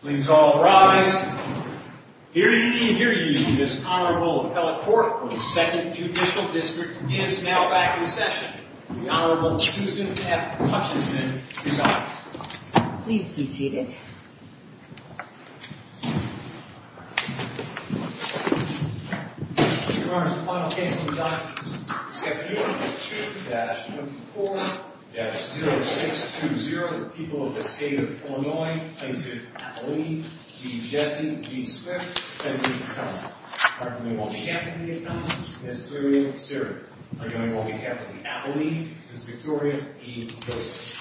Please all rise. Hear ye, hear ye. This Honorable Appellate Court of the 2nd Judicial District is now back in session. The Honorable Susan F. Hutchinson is up. Please be seated. Your Honor, the final case on the docket this afternoon is 2-24-0620. The people of the State of Illinois, Interim Appellee G. Jessie v. Swift. Interim Appellate. We are going on behalf of the Appellate, Ms. Gloria Sierra. We are going on behalf of the Appellee, Ms. Victoria E. Lewis.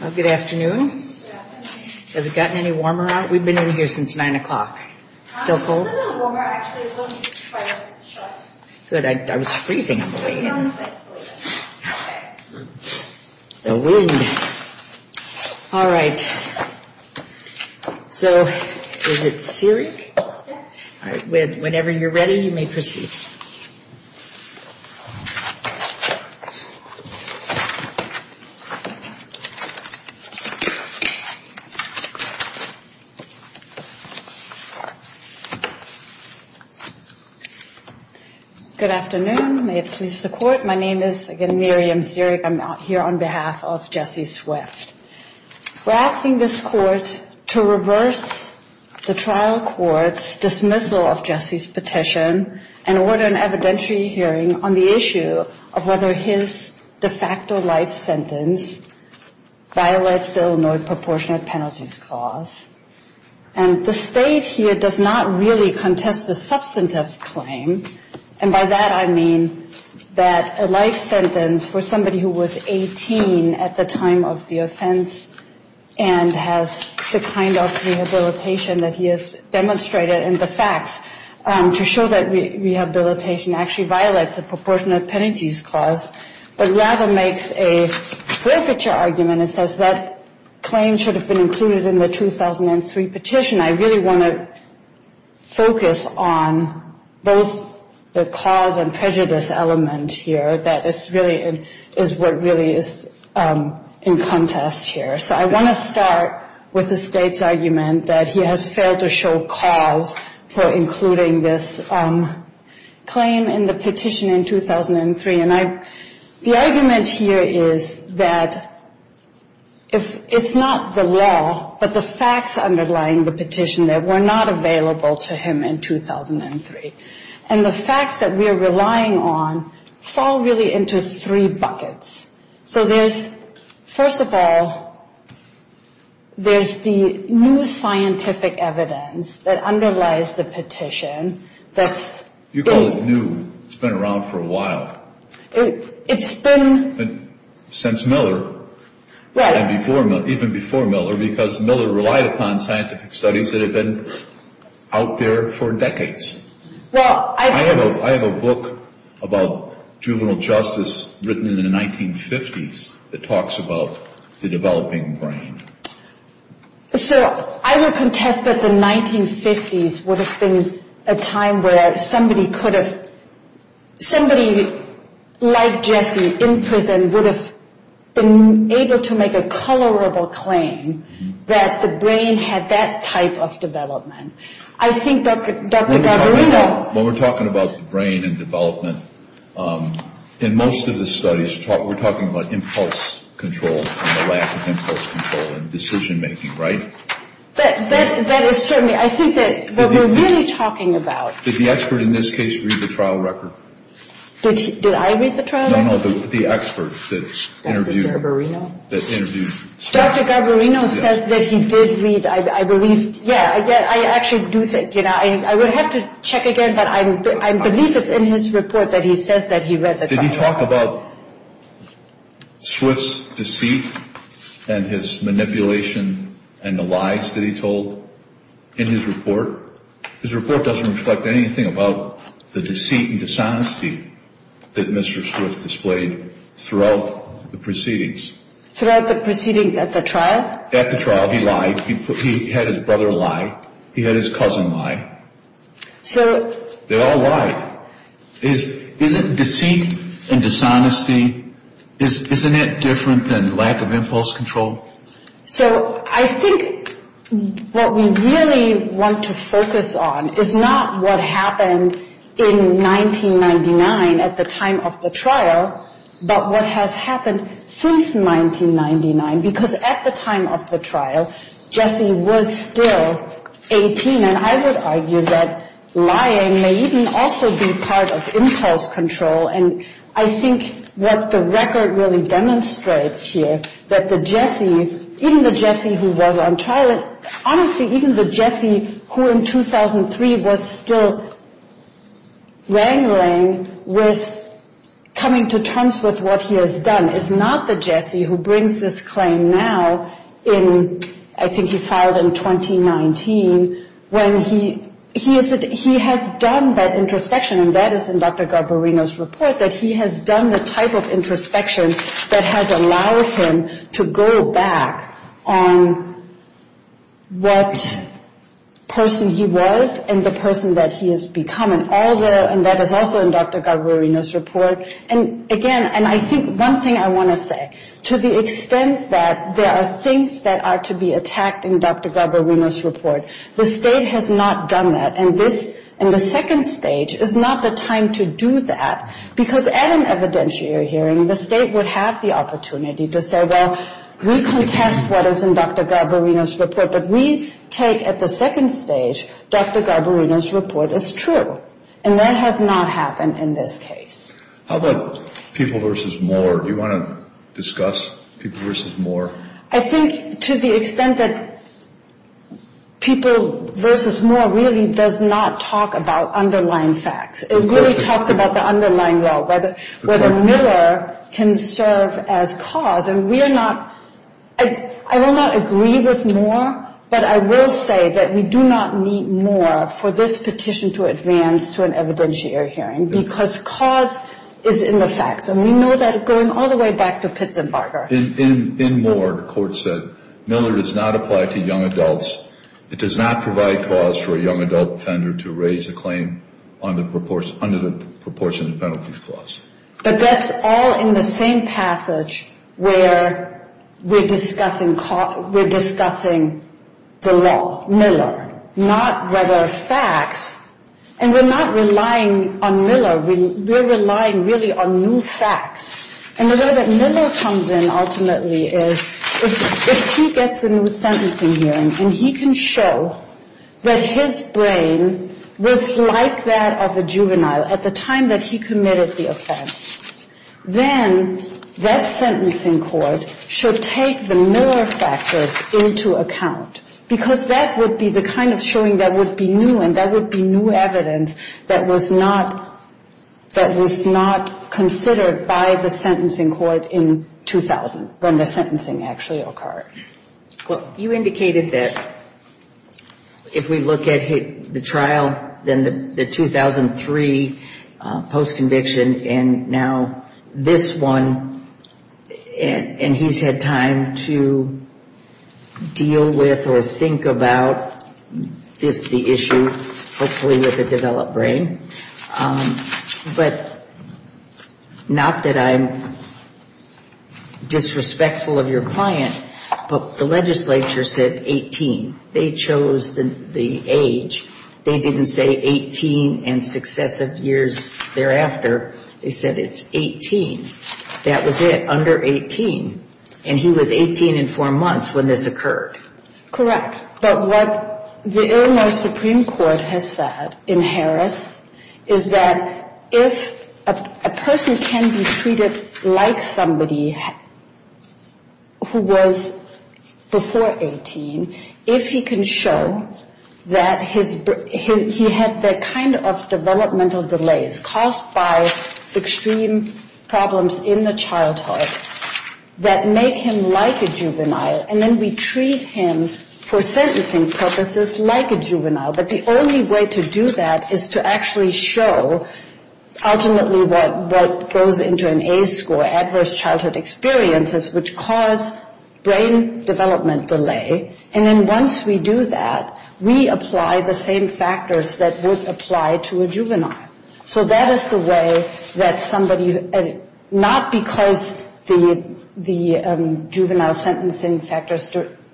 Well, good afternoon. Has it gotten any warmer out? We've been in here since 9 o'clock. Still cold? It's a little warmer actually. Good. I was freezing. The wind. All right. So, is it Siri? Whenever you're ready, you may proceed. Good afternoon. May it please the Court. My name is, again, Miriam Zierig. I'm out here on behalf of Jessie Swift. We're asking this Court to reverse the trial court's dismissal of Jessie's petition and order an evidentiary hearing on the issue of whether his de facto life sentence violates the Illinois Proportionate Penalties Clause. And the State here does not really contest a substantive claim. And by that I mean that a life sentence for somebody who was 18 at the time of the offense and has the kind of rehabilitation that he has demonstrated and the facts to show that rehabilitation actually violates the Proportionate Penalties Clause, but rather makes a forfeiture argument and says that claim should have been included in the 2003 petition. In addition, I really want to focus on both the cause and prejudice element here that is what really is in contest here. So I want to start with the State's argument that he has failed to show cause for including this claim in the petition in 2003. The argument here is that it's not the law, but the facts underlying the petition that were not available to him in 2003. And the facts that we're relying on fall really into three buckets. So there's, first of all, there's the new scientific evidence that underlies the petition that's You call it new. It's been around for a while. It's been... Since Miller. Right. Even before Miller, because Miller relied upon scientific studies that had been out there for decades. Well, I... I have a book about juvenile justice written in the 1950s that talks about the developing brain. So I would contest that the 1950s would have been a time where somebody could have... Somebody like Jesse in prison would have been able to make a colorable claim that the brain had that type of development. I think Dr. Gargarindo... When we're talking about the brain and development, in most of the studies, we're talking about impulse control and the lack of impulse control in decision-making, right? That is certainly... I think that what we're really talking about... Did the expert in this case read the trial record? Did I read the trial record? No, no, the expert that interviewed... That interviewed... Dr. Gargarindo says that he did read, I believe... Yeah, I actually do think... I would have to check again, but I believe it's in his report that he says that he read the trial record. Did he talk about Swift's deceit and his manipulation and the lies that he told in his report? His report doesn't reflect anything about the deceit and dishonesty that Mr. Swift displayed throughout the proceedings. Throughout the proceedings at the trial? At the trial, he lied. He had his brother lie. He had his cousin lie. So... They all lied. Isn't deceit and dishonesty... Isn't it different than lack of impulse control? So, I think what we really want to focus on is not what happened in 1999 at the time of the trial, but what has happened since 1999, because at the time of the trial, Jesse was still 18, and I would argue that lying may even also be part of impulse control. And I think what the record really demonstrates here, that the Jesse, even the Jesse who was on trial... Honestly, even the Jesse who in 2003 was still wrangling with coming to terms with what he has done is not the Jesse who brings this claim now in, I think he filed in 2019, when he has done that introspection, and that is in Dr. Garbarino's report, that he has done the type of introspection that has allowed him to go back on what person he was and the person that he has become, and that is also in Dr. Garbarino's report. And again, and I think one thing I want to say, to the extent that there are things that are to be attacked in Dr. Garbarino's report, the state has not done that, and the second stage is not the time to do that, because at an evidentiary hearing, the state would have the opportunity to say, well, we contest what is in Dr. Garbarino's report, but we take at the second stage, Dr. Garbarino's report is true, and that has not happened in this case. How about people versus Moore? Do you want to discuss people versus Moore? I think to the extent that people versus Moore really does not talk about underlying facts. It really talks about the underlying law, whether Miller can serve as cause, and we are not... I will not agree with Moore, but I will say that we do not need Moore for this petition to advance to an evidentiary hearing, because cause is in the facts, and we know that going all the way back to Pitts and Barger. In Moore, the court said, Miller does not apply to young adults. It does not provide cause for a young adult offender to raise a claim under the proportionate penalties clause. But that's all in the same passage where we're discussing the law, Miller, not whether facts, and we're not relying on Miller, we're relying really on new facts. And the way that Miller comes in ultimately is if he gets a new sentencing hearing, and he can show that his brain was like that of a juvenile at the time that he committed the offense, then that sentencing court should take the Miller factors into account, because that would be the kind of showing that would be new, and that would be new evidence that was not considered by the sentencing court in 2000, when the sentencing actually occurred. Well, you indicated that if we look at the trial, then the 2003 post-conviction, and now this one, and he's had time to deal with or think about the issue, hopefully with a developed brain. But not that I'm disrespectful of your client, but the legislature said 18. They chose the age. They didn't say 18 and successive years thereafter. They said it's 18. That was it, under 18. And he was 18 and four months when this occurred. Correct. But what the Illinois Supreme Court has said in Harris is that if a person can be treated like somebody who was before 18, if he can show that he had the kind of developmental delays caused by extreme problems in the childhood that make him like a juvenile, and then we treat him for sentencing purposes like a juvenile, but the only way to do that is to actually show ultimately what goes into an ACE score, Adverse Childhood Experiences, which cause brain development delay. And then once we do that, we apply the same factors that would apply to a juvenile. So that is the way that somebody, not because the juvenile sentencing factors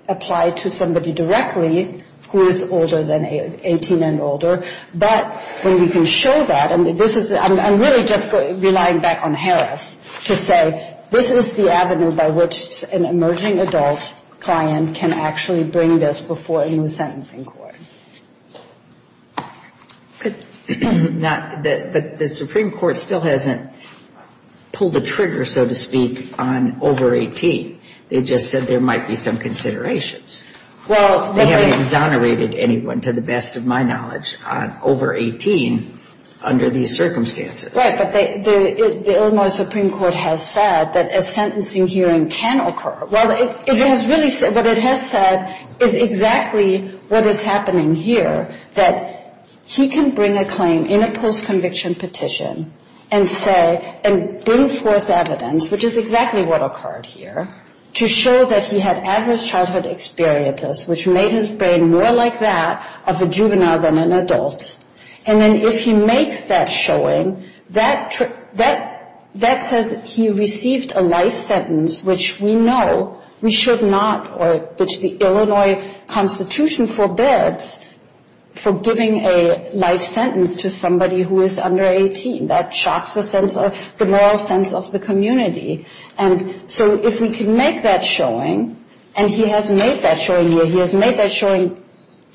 apply to somebody directly who is older than 18 and older, but when we can show that, and this is, I'm really just relying back on Harris to say, this is the avenue by which an emerging adult client can actually bring this before a new sentencing court. But the Supreme Court still hasn't pulled the trigger, so to speak, on over 18. They just said there might be some considerations. They haven't exonerated anyone, to the best of my knowledge, on over 18 under these circumstances. Right. But the Illinois Supreme Court has said that a sentencing hearing can occur. Well, it has really said, what it has said is exactly what is happening here, that he can bring a claim in a post-conviction petition and say, and bring forth evidence, which is exactly what occurred here, to show that he had Adverse Childhood Experiences, which made his brain more like that of a juvenile than an adult. And then if he makes that showing, that says he received a life sentence, which we know we should not, or which the Illinois Constitution forbids, for giving a life sentence to somebody who is under 18. That shocks the moral sense of the community. And so if we can make that showing, and he has made that showing here,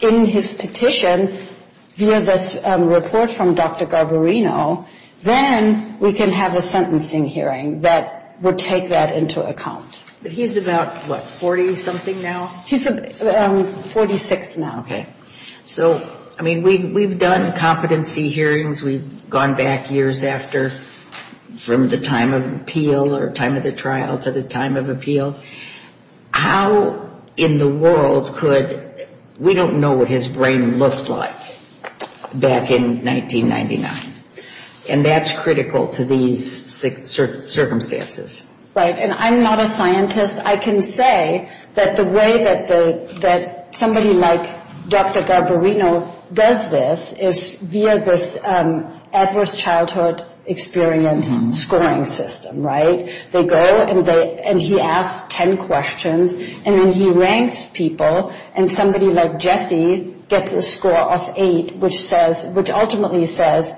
in his petition, via this report from Dr. Garbarino, then we can have a sentencing hearing that would take that into account. But he's about, what, 40-something now? He's 46 now. Okay. So, I mean, we've done competency hearings. We've gone back years after, from the time of appeal or time of the trial to the time of appeal. How in the world could, we don't know what his brain looked like back in 1999. And that's critical to these circumstances. Right. And I'm not a scientist. I can say that the way that somebody like Dr. Garbarino does this is via this Adverse Childhood Experience scoring system. Right? They go, and he asks 10 questions, and then he ranks people, and somebody like Jesse gets a score of 8, which ultimately says,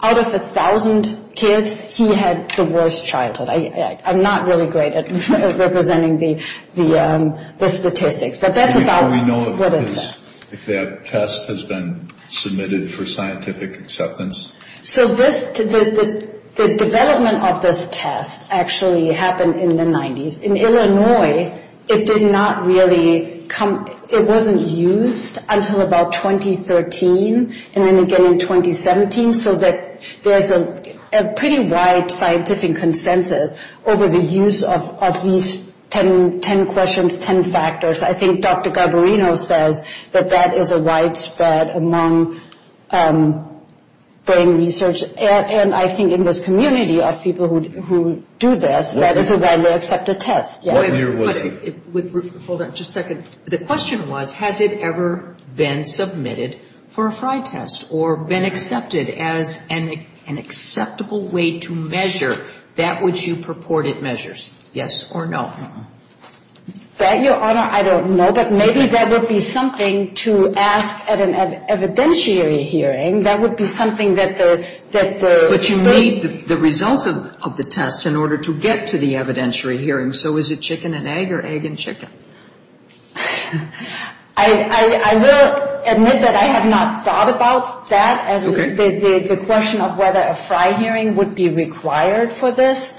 out of 1,000 kids, he had the worst childhood. I'm not really great at representing the statistics. But that's about what it says. Do we know if that test has been submitted for scientific acceptance? So this, the development of this test actually happened in the 90s. In Illinois, it did not really come, it wasn't used until about 2013, and then again in 2017, so that there's a pretty wide scientific consensus over the use of these 10 questions, 10 factors. I think Dr. Garbarino says that that is a widespread among brain research, and I think in this community of people who do this, that is a widely accepted test. Yes? Hold on just a second. The question was, has it ever been submitted for a FRI test or been accepted as an acceptable way to measure that which you purported measures? Yes or no? That, Your Honor, I don't know. But maybe that would be something to ask at an evidentiary hearing. That would be something that the state… But you need the results of the test in order to get to the evidentiary hearing. So is it chicken and egg or egg and chicken? I will admit that I have not thought about that, the question of whether a FRI hearing would be required for this.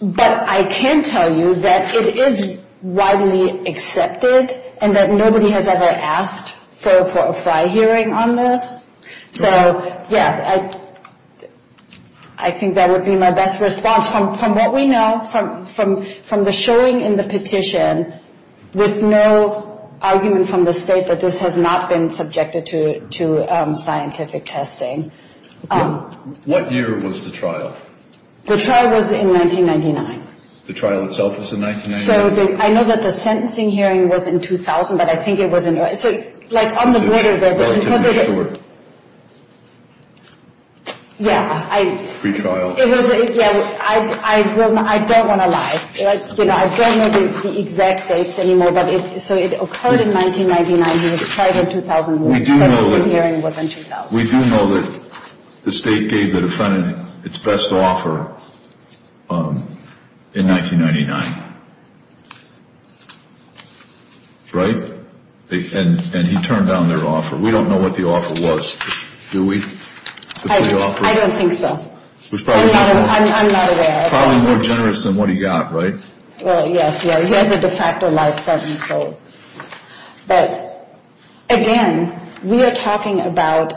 But I can tell you that it is widely accepted and that nobody has ever asked for a FRI hearing on this. So, yeah, I think that would be my best response from what we know from the showing in the petition with no argument from the state that this has not been subjected to scientific testing. What year was the trial? The trial was in 1999. The trial itself was in 1999? So I know that the sentencing hearing was in 2000, but I think it was in… So, like, on the border there… Well, it isn't sure. Yeah, I… Pre-trial. Yeah, I don't want to lie. Like, you know, I don't know the exact dates anymore, but so it occurred in 1999. It was tried in 2001. The sentencing hearing was in 2000. We do know that the state gave the defendant its best offer in 1999, right? And he turned down their offer. We don't know what the offer was, do we? I don't think so. I'm not aware. Probably more generous than what he got, right? Well, yes, yes. He has a de facto life sentence, so… But, again, we are talking about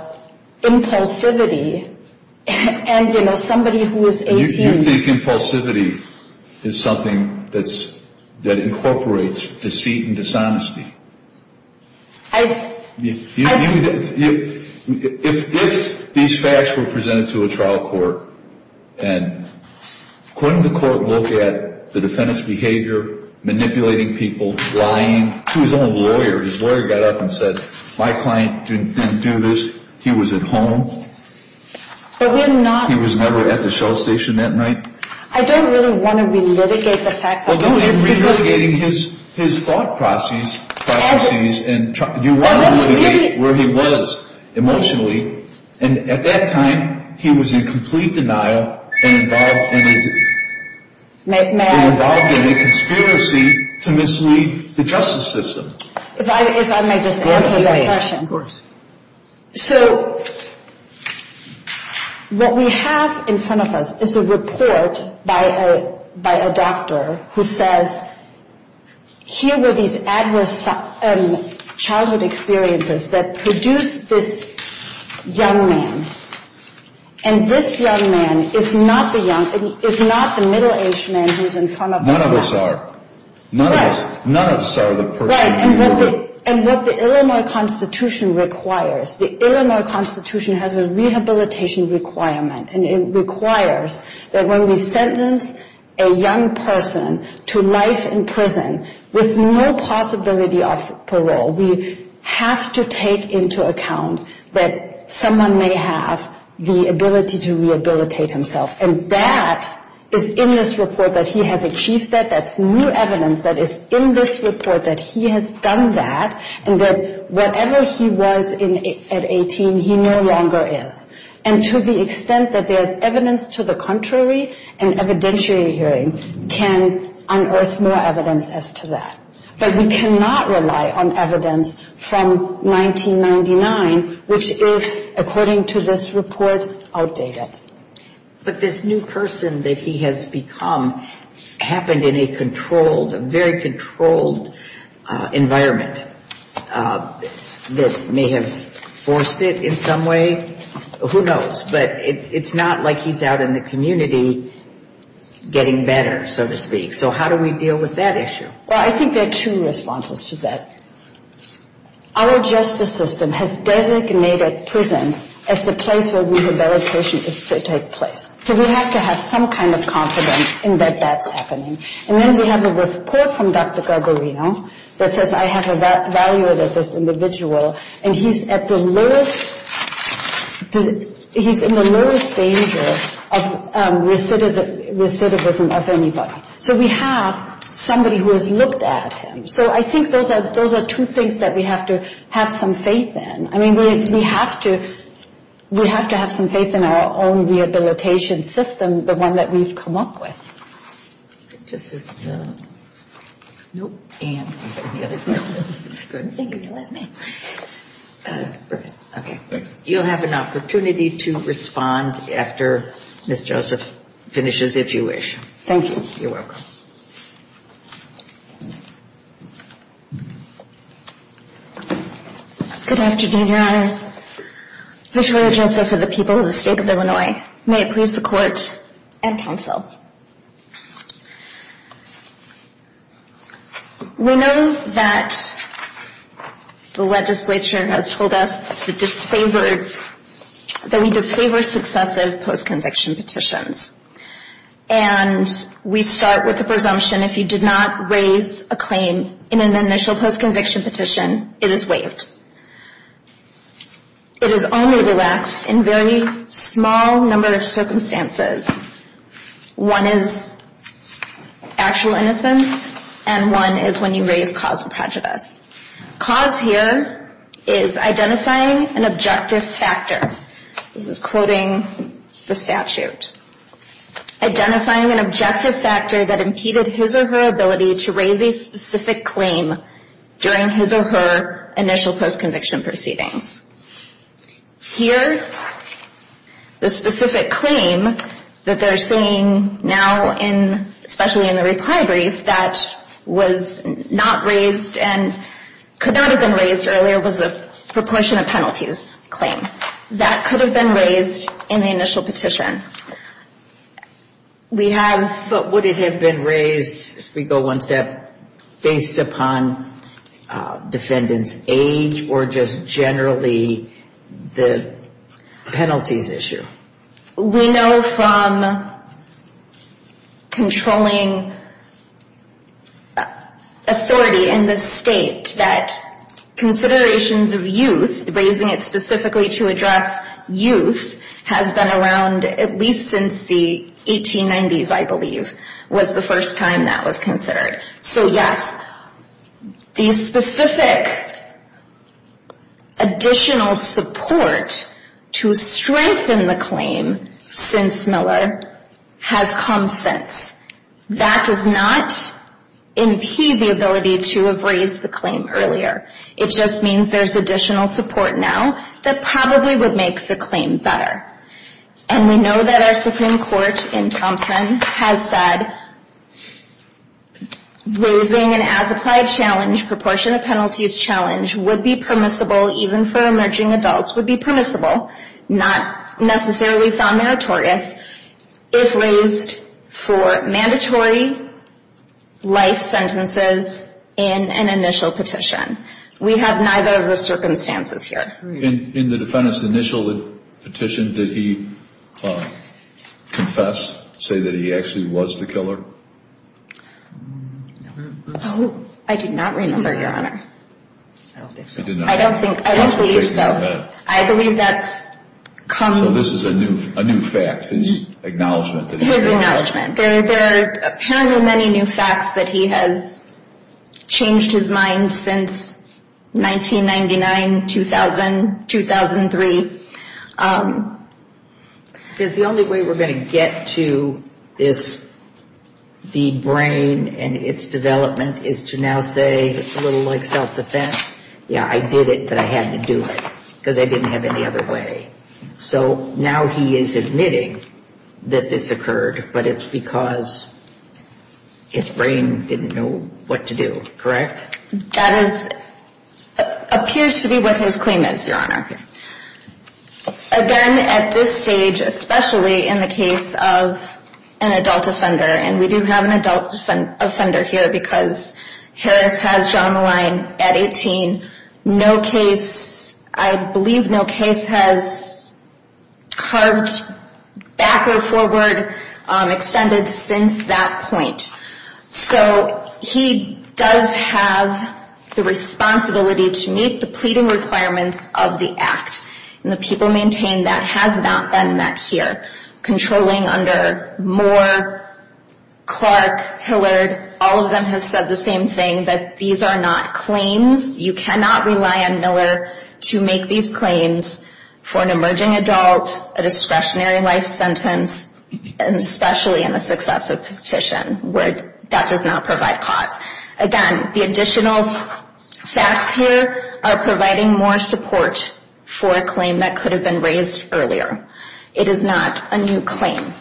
impulsivity, and, you know, somebody who is 18… You think impulsivity is something that incorporates deceit and dishonesty? I… If these facts were presented to a trial court, and couldn't the court look at the defendant's behavior, manipulating people, lying to his own lawyer? His lawyer got up and said, my client didn't do this. He was at home. But we're not… He was never at the shell station that night. I don't really want to relitigate the facts. Well, don't be relitigating his thought processes and… That's what we did. emotionally. And at that time, he was in complete denial and involved in a… May I… And involved in a conspiracy to mislead the justice system. If I may just answer that question. Of course. So, what we have in front of us is a report by a doctor who says, here were these adverse childhood experiences that produced this young man. And this young man is not the middle-aged man who's in front of us now. None of us are. Right. None of us are the person who… Right. And what the Illinois Constitution requires, the Illinois Constitution has a rehabilitation requirement. And it requires that when we sentence a young person to life in prison with no possibility of parole, we have to take into account that someone may have the ability to rehabilitate himself. And that is in this report that he has achieved that. That's new evidence that is in this report that he has done that and that wherever he was at 18, he no longer is. And to the extent that there's evidence to the contrary and evidentiary hearing can unearth more evidence as to that. But we cannot rely on evidence from 1999, which is, according to this report, outdated. But this new person that he has become happened in a controlled, a very controlled environment that may have forced it in some way. Who knows? But it's not like he's out in the community getting better, so to speak. So how do we deal with that issue? Well, I think there are two responses to that. Our justice system has designated prisons as the place where rehabilitation is to take place. So we have to have some kind of confidence in that that's happening. And then we have a report from Dr. Garbarino that says I have evaluated this individual and he's at the lowest, he's in the lowest danger of recidivism of anybody. So we have somebody who has looked at him. So I think those are two things that we have to have some faith in. I mean, we have to have some faith in our own rehabilitation system, the one that we've come up with. Just as, nope, Ann. Thank you. You'll have an opportunity to respond after Ms. Joseph finishes, if you wish. Thank you. You're welcome. Good afternoon, Your Honors. Victoria Joseph for the people of the state of Illinois. May it please the Court and counsel. We know that the legislature has told us that we disfavor successive post-conviction petitions. And we start with the presumption if you did not raise a claim in an initial post-conviction petition, it is waived. It is only relaxed in very small number of circumstances. One is actual innocence and one is when you raise cause of prejudice. Cause here is identifying an objective factor. This is quoting the statute. Identifying an objective factor that impeded his or her ability to raise a specific claim during his or her initial post-conviction proceedings. Here, the specific claim that they're saying now, especially in the reply brief, that was not raised and could not have been raised earlier was a proportion of penalties claim. That could have been raised in the initial petition. Would it have been raised, if we go one step, based upon defendant's age or just generally the penalties issue? We know from controlling authority in the state that considerations of youth, raising it specifically to address youth, has been around at least since the 1890s, I believe, was the first time that was considered. So yes, the specific additional support to strengthen the claim since Miller has come since. That does not impede the ability to have raised the claim earlier. It just means there's additional support now that probably would make the claim better. And we know that our Supreme Court in Thompson has said raising an as-applied challenge, proportion of penalties challenge, would be permissible even for emerging adults, would be permissible, not necessarily found meritorious, if raised for mandatory life sentences in an initial petition. We have neither of the circumstances here. In the defendant's initial petition, did he confess, say that he actually was the killer? Oh, I do not remember, Your Honor. I don't think so. I don't think so. I believe that's come. So this is a new fact, his acknowledgment. His acknowledgment. There are apparently many new facts that he has changed his mind since 1999, 2000, 2003. Because the only way we're going to get to this, the brain and its development, is to now say it's a little like self-defense. Yeah, I did it, but I had to do it because I didn't have any other way. So now he is admitting that this occurred, but it's because his brain didn't know what to do, correct? That appears to be what his claim is, Your Honor. Again, at this stage, especially in the case of an adult offender, and we do have an adult offender here because Harris has drawn the line at 18. No case, I believe no case has carved back or forward, extended since that point. So he does have the responsibility to meet the pleading requirements of the act. And the people maintain that has not been met here. Controlling under Moore, Clark, Hillard, all of them have said the same thing, that these are not claims. You cannot rely on Miller to make these claims for an emerging adult, a discretionary life sentence, and especially in a successive petition where that does not provide cause. Again, the additional facts here are providing more support for a claim that could have been raised earlier. It is not a new claim.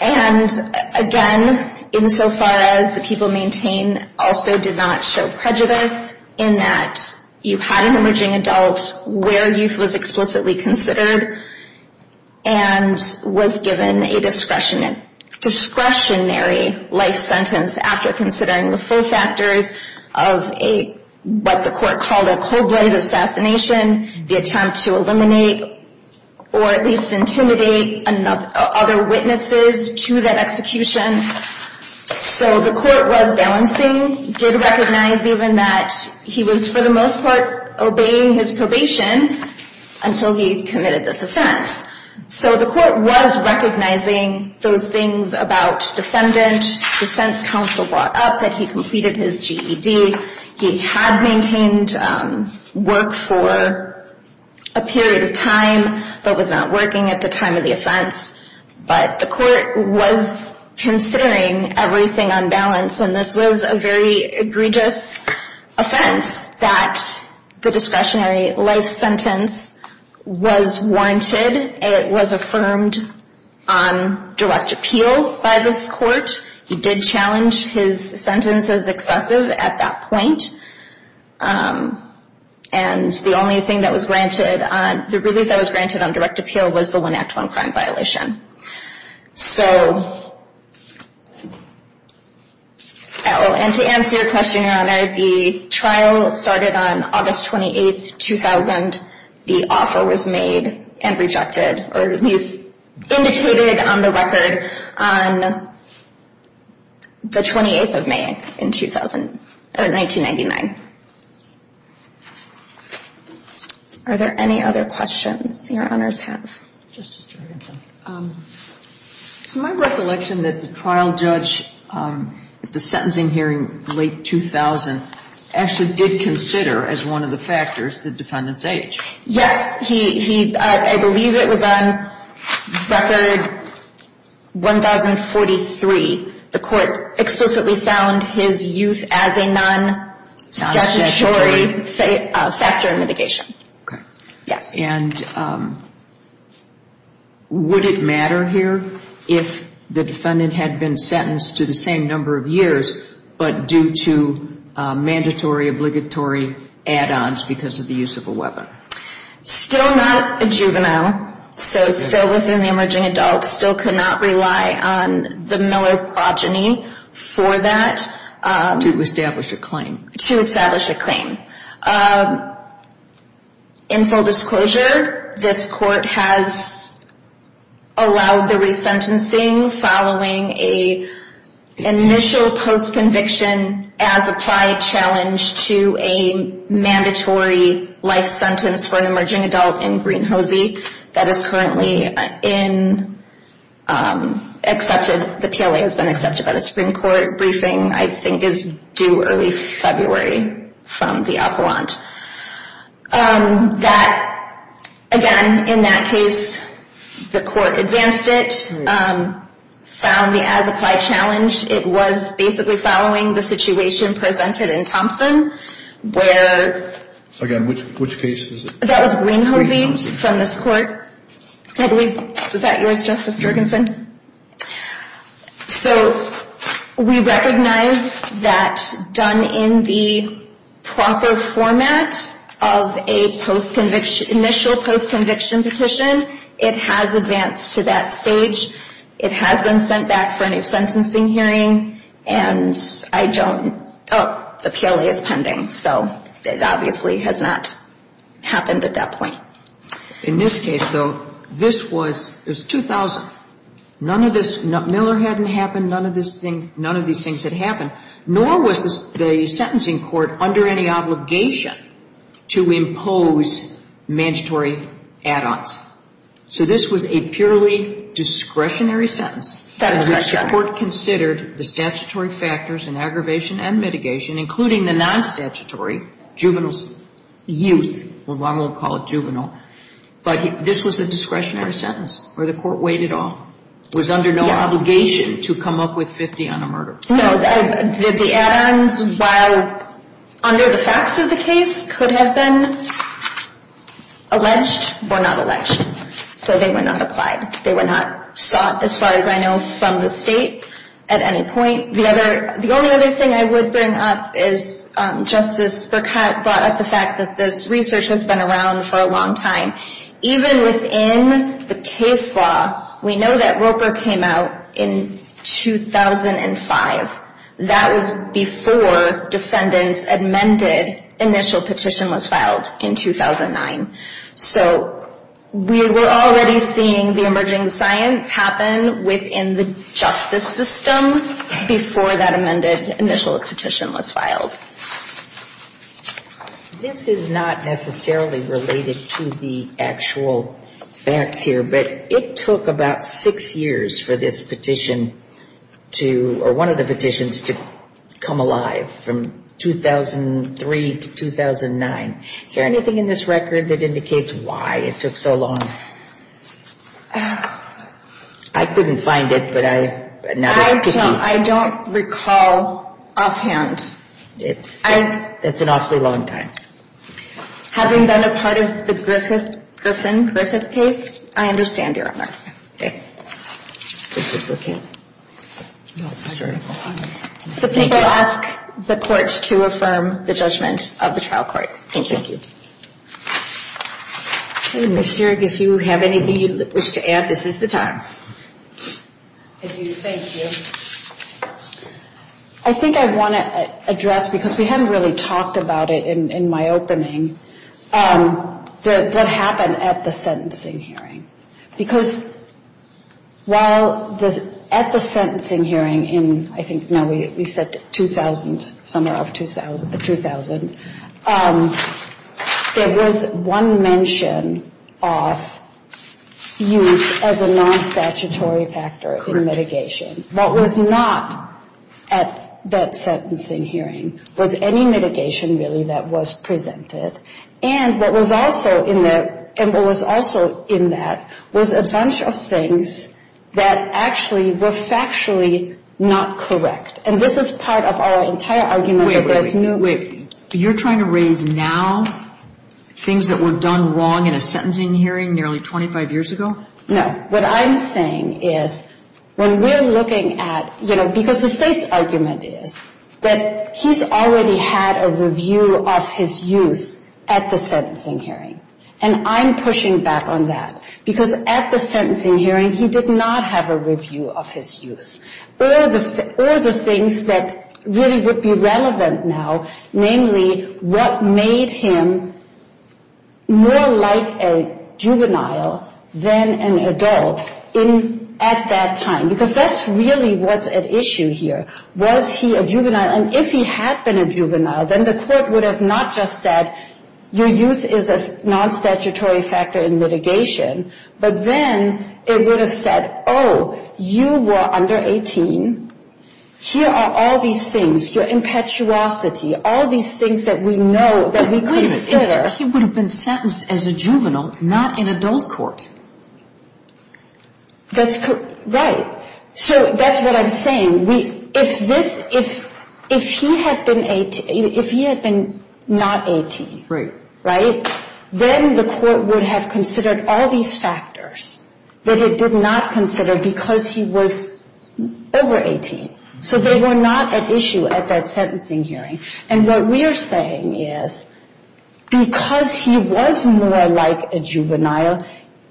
And again, insofar as the people maintain also did not show prejudice in that you had an emerging adult where youth was explicitly considered and was given a discretionary life sentence after considering the full factors of what the court called a cold-blooded assassination, the attempt to eliminate or at least intimidate other witnesses to that execution. So the court was balancing, did recognize even that he was for the most part obeying his probation until he committed this offense. So the court was recognizing those things about defendant, defense counsel brought up that he completed his GED. He had maintained work for a period of time but was not working at the time of the offense. But the court was considering everything on balance, and this was a very egregious offense that the discretionary life sentence was warranted. It was affirmed on direct appeal by this court. He did challenge his sentence as excessive at that point. And the only thing that was granted, the relief that was granted on direct appeal was the 1 Act 1 crime violation. So, and to answer your question, Your Honor, the trial started on August 28, 2000. And the offer was made and rejected, or at least indicated on the record on the 28th of May in 2000, or 1999. Are there any other questions Your Honors have? So my recollection that the trial judge at the sentencing hearing late 2000 actually did consider as one of the factors the defendant's age. Yes. He, I believe it was on record 1043. The court explicitly found his youth as a non-statutory factor in mitigation. Okay. Yes. And would it matter here if the defendant had been sentenced to the same number of years, but due to mandatory, obligatory add-ons because of the use of a weapon? Still not a juvenile, so still within the emerging adult, still cannot rely on the Miller progeny for that. To establish a claim. To establish a claim. In full disclosure, this court has allowed the resentencing following an initial post-conviction as applied challenge to a mandatory life sentence for an emerging adult in Green Hosey that is currently in, accepted, the PLA has been accepted by the Supreme Court. Briefing, I think, is due early February from the appellant. That, again, in that case, the court advanced it, found the as-applied challenge. It was basically following the situation presented in Thompson where... Again, which case is it? That was Green Hosey from this court, I believe. Was that yours, Justice Jorgensen? So we recognize that done in the proper format of a post-conviction, initial post-conviction petition, it has advanced to that stage. It has been sent back for a new sentencing hearing, and I don't... The PLA is pending, so it obviously has not happened at that point. In this case, though, this was 2000. None of this, Miller hadn't happened. None of these things had happened. Nor was the sentencing court under any obligation to impose mandatory add-ons. So this was a purely discretionary sentence. Discretionary. The court considered the statutory factors in aggravation and mitigation, including the non-statutory juveniles, youth. We won't call it juvenile. But this was a discretionary sentence where the court weighed it all, was under no obligation to come up with 50 on a murder. No, the add-ons, while under the facts of the case, could have been alleged or not alleged. So they were not applied. They were not sought, as far as I know, from the state at any point. The only other thing I would bring up is Justice Burkett brought up the fact that this research has been around for a long time. Even within the case law, we know that Roper came out in 2005. That was before defendants amended initial petition was filed in 2009. So we were already seeing the emerging science happen within the justice system before that amended initial petition was filed. This is not necessarily related to the actual facts here. But it took about six years for this petition to, or one of the petitions, to come alive from 2003 to 2009. Is there anything in this record that indicates why it took so long? I couldn't find it, but I know it could be. I don't recall offhand. It's an awfully long time. Having been a part of the Griffin-Griffith case, I understand, Your Honor. Okay. Justice Burkett. The people ask the courts to affirm the judgment of the trial court. Thank you. Thank you. Ms. Zierig, if you have anything you wish to add, this is the time. Thank you. I think I want to address, because we haven't really talked about it in my opening, what happened at the sentencing hearing. Because while at the sentencing hearing in, I think, no, we said 2000, somewhere off 2000, there was one mention of use as a non-statutory factor in mitigation. What was not at that sentencing hearing was any mitigation, really, that was presented. And what was also in that was a bunch of things that actually were factually not correct. And this is part of our entire argument. Wait, wait, wait. You're trying to raise now things that were done wrong in a sentencing hearing nearly 25 years ago? No. What I'm saying is when we're looking at, you know, because the state's argument is that he's already had a review of his use at the sentencing hearing. And I'm pushing back on that. Because at the sentencing hearing, he did not have a review of his use. All the things that really would be relevant now, namely what made him more like a juvenile than an adult at that time. Because that's really what's at issue here. Was he a juvenile? And if he had been a juvenile, then the court would have not just said, your use is a non-statutory factor in mitigation. But then it would have said, oh, you were under 18. Here are all these things, your impetuosity, all these things that we know that we consider. But wait a minute. He would have been sentenced as a juvenile, not in adult court. Right. So that's what I'm saying. If he had been not 18, right, then the court would have considered all these factors that it did not consider because he was over 18. So they were not at issue at that sentencing hearing. And what we are saying is because he was more like a juvenile,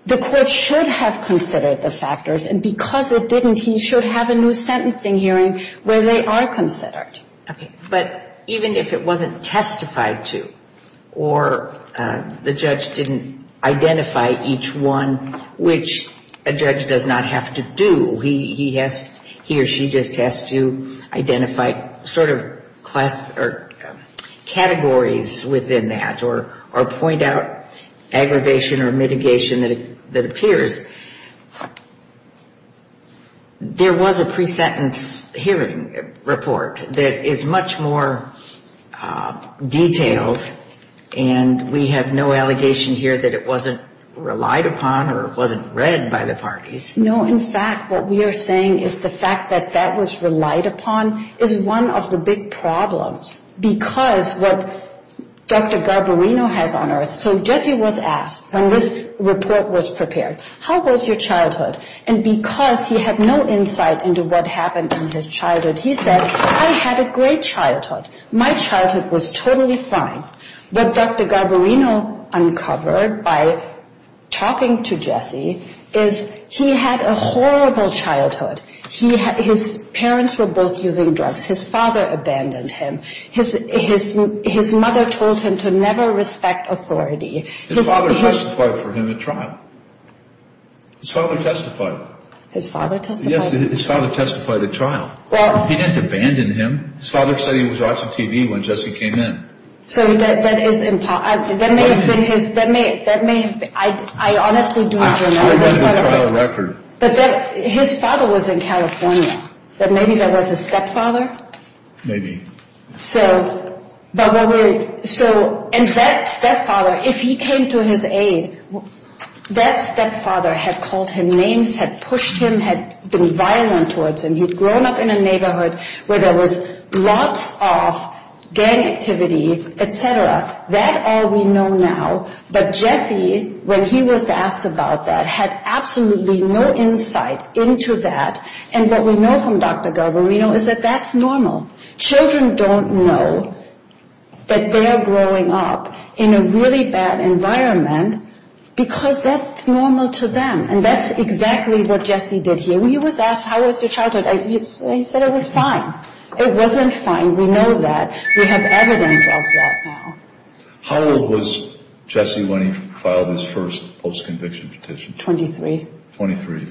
the court should have considered the factors. And because it didn't, he should have a new sentencing hearing where they are considered. Okay. But even if it wasn't testified to or the judge didn't identify each one, which a judge does not have to do, he or she just has to identify sort of categories within that or point out aggravation or mitigation that appears, there was a pre-sentence hearing report that is much more detailed. And we have no allegation here that it wasn't relied upon or it wasn't read by the parties. No, in fact, what we are saying is the fact that that was relied upon is one of the big problems. Because what Dr. Garbarino has on earth, so Jesse was asked when this report was prepared, how was your childhood? And because he had no insight into what happened in his childhood, he said, I had a great childhood. My childhood was totally fine. What Dr. Garbarino uncovered by talking to Jesse is he had a horrible childhood. His parents were both using drugs. His father abandoned him. His mother told him to never respect authority. His father testified for him at trial. His father testified. His father testified? Yes, his father testified at trial. He didn't abandon him. His father said he was watching TV when Jesse came in. So that is, that may have been his, that may have been, I honestly don't remember. That's part of the trial record. But that, his father was in California. But maybe that was his stepfather? Maybe. So, but what we, so, and that stepfather, if he came to his aid, that stepfather had called him names, had pushed him, had been violent towards him. He'd grown up in a neighborhood where there was lots of gang activity, et cetera. That all we know now. But Jesse, when he was asked about that, had absolutely no insight into that. And what we know from Dr. Garbarino is that that's normal. Children don't know that they're growing up in a really bad environment because that's normal to them. And that's exactly what Jesse did here. He was asked, how was your childhood? He said it was fine. It wasn't fine. We know that. We have evidence of that now. How old was Jesse when he filed his first post-conviction petition? Twenty-three. Twenty-three.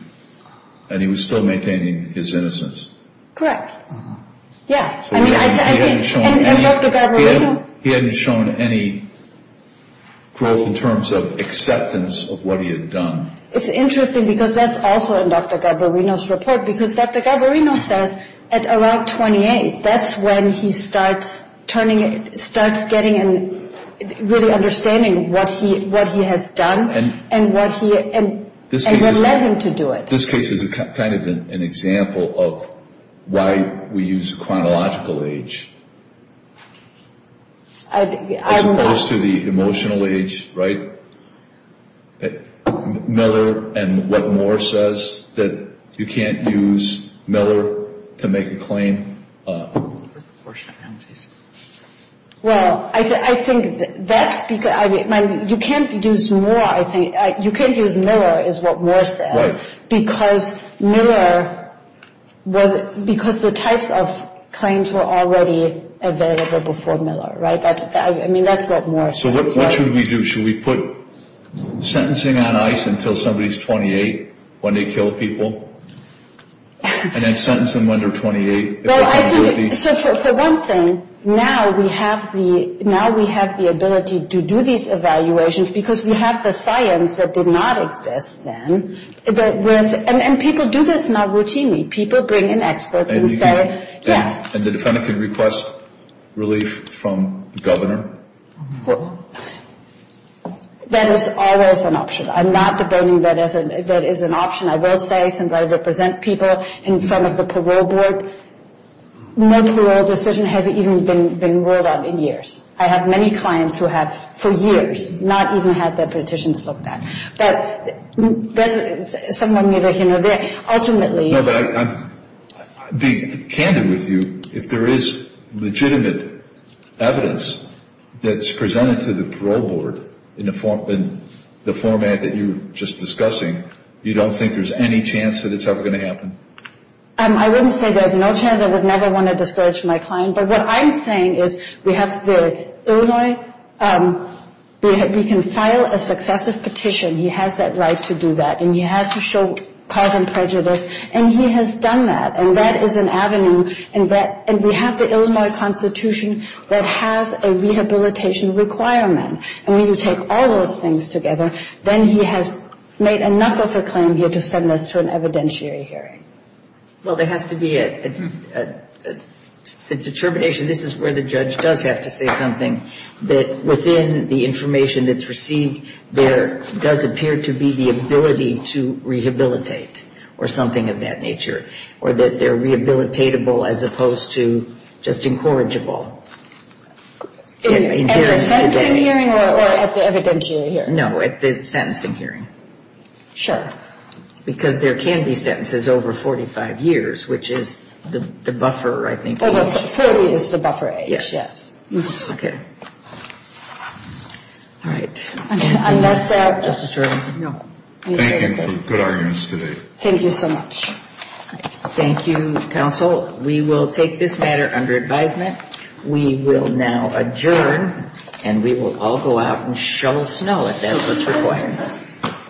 And he was still maintaining his innocence? Correct. Yeah. And Dr. Garbarino? He hadn't shown any growth in terms of acceptance of what he had done. It's interesting because that's also in Dr. Garbarino's report because Dr. Garbarino says at around 28, that's when he starts getting really understanding what he has done and what led him to do it. This case is kind of an example of why we use chronological age as opposed to the emotional age, right? Miller and what Moore says, that you can't use Miller to make a claim. Well, I think that's because you can't use Moore, I think. You can't use Miller, is what Moore says, because Miller, because the types of claims were already available before Miller, right? I mean, that's what Moore says. So what should we do? Should we put sentencing on ice until somebody is 28, when they kill people, and then sentence them when they're 28? Well, I think, for one thing, now we have the ability to do these evaluations because we have the science that did not exist then. And people do this now routinely. People bring in experts and say, yes. And the defendant can request relief from the governor. That is always an option. I'm not debating that as an option. I will say, since I represent people in front of the parole board, no parole decision has even been rolled out in years. I have many clients who have for years not even had their petitions looked at. But that's someone either here or there. No, but I'm being candid with you. If there is legitimate evidence that's presented to the parole board in the format that you were just discussing, you don't think there's any chance that it's ever going to happen? I wouldn't say there's no chance. I would never want to discourage my client. But what I'm saying is we have the Illinois, we can file a successive petition. He has that right to do that. And he has to show cause and prejudice. And he has done that. And that is an avenue. And we have the Illinois Constitution that has a rehabilitation requirement. And when you take all those things together, then he has made enough of a claim here to send us to an evidentiary hearing. Well, there has to be a determination. This is where the judge does have to say something, that within the information that's received, there does appear to be the ability to rehabilitate or something of that nature, or that they're rehabilitatable as opposed to just incorrigible. At the sentencing hearing or at the evidentiary hearing? No, at the sentencing hearing. Sure. Because there can be sentences over 45 years, which is the buffer, I think. Over 40 is the buffer age, yes. Okay. All right. Unless there are... No. Thank you for good arguments today. Thank you so much. Thank you, counsel. We will take this matter under advisement. We will now adjourn. And we will all go out and shovel snow if that's what's required.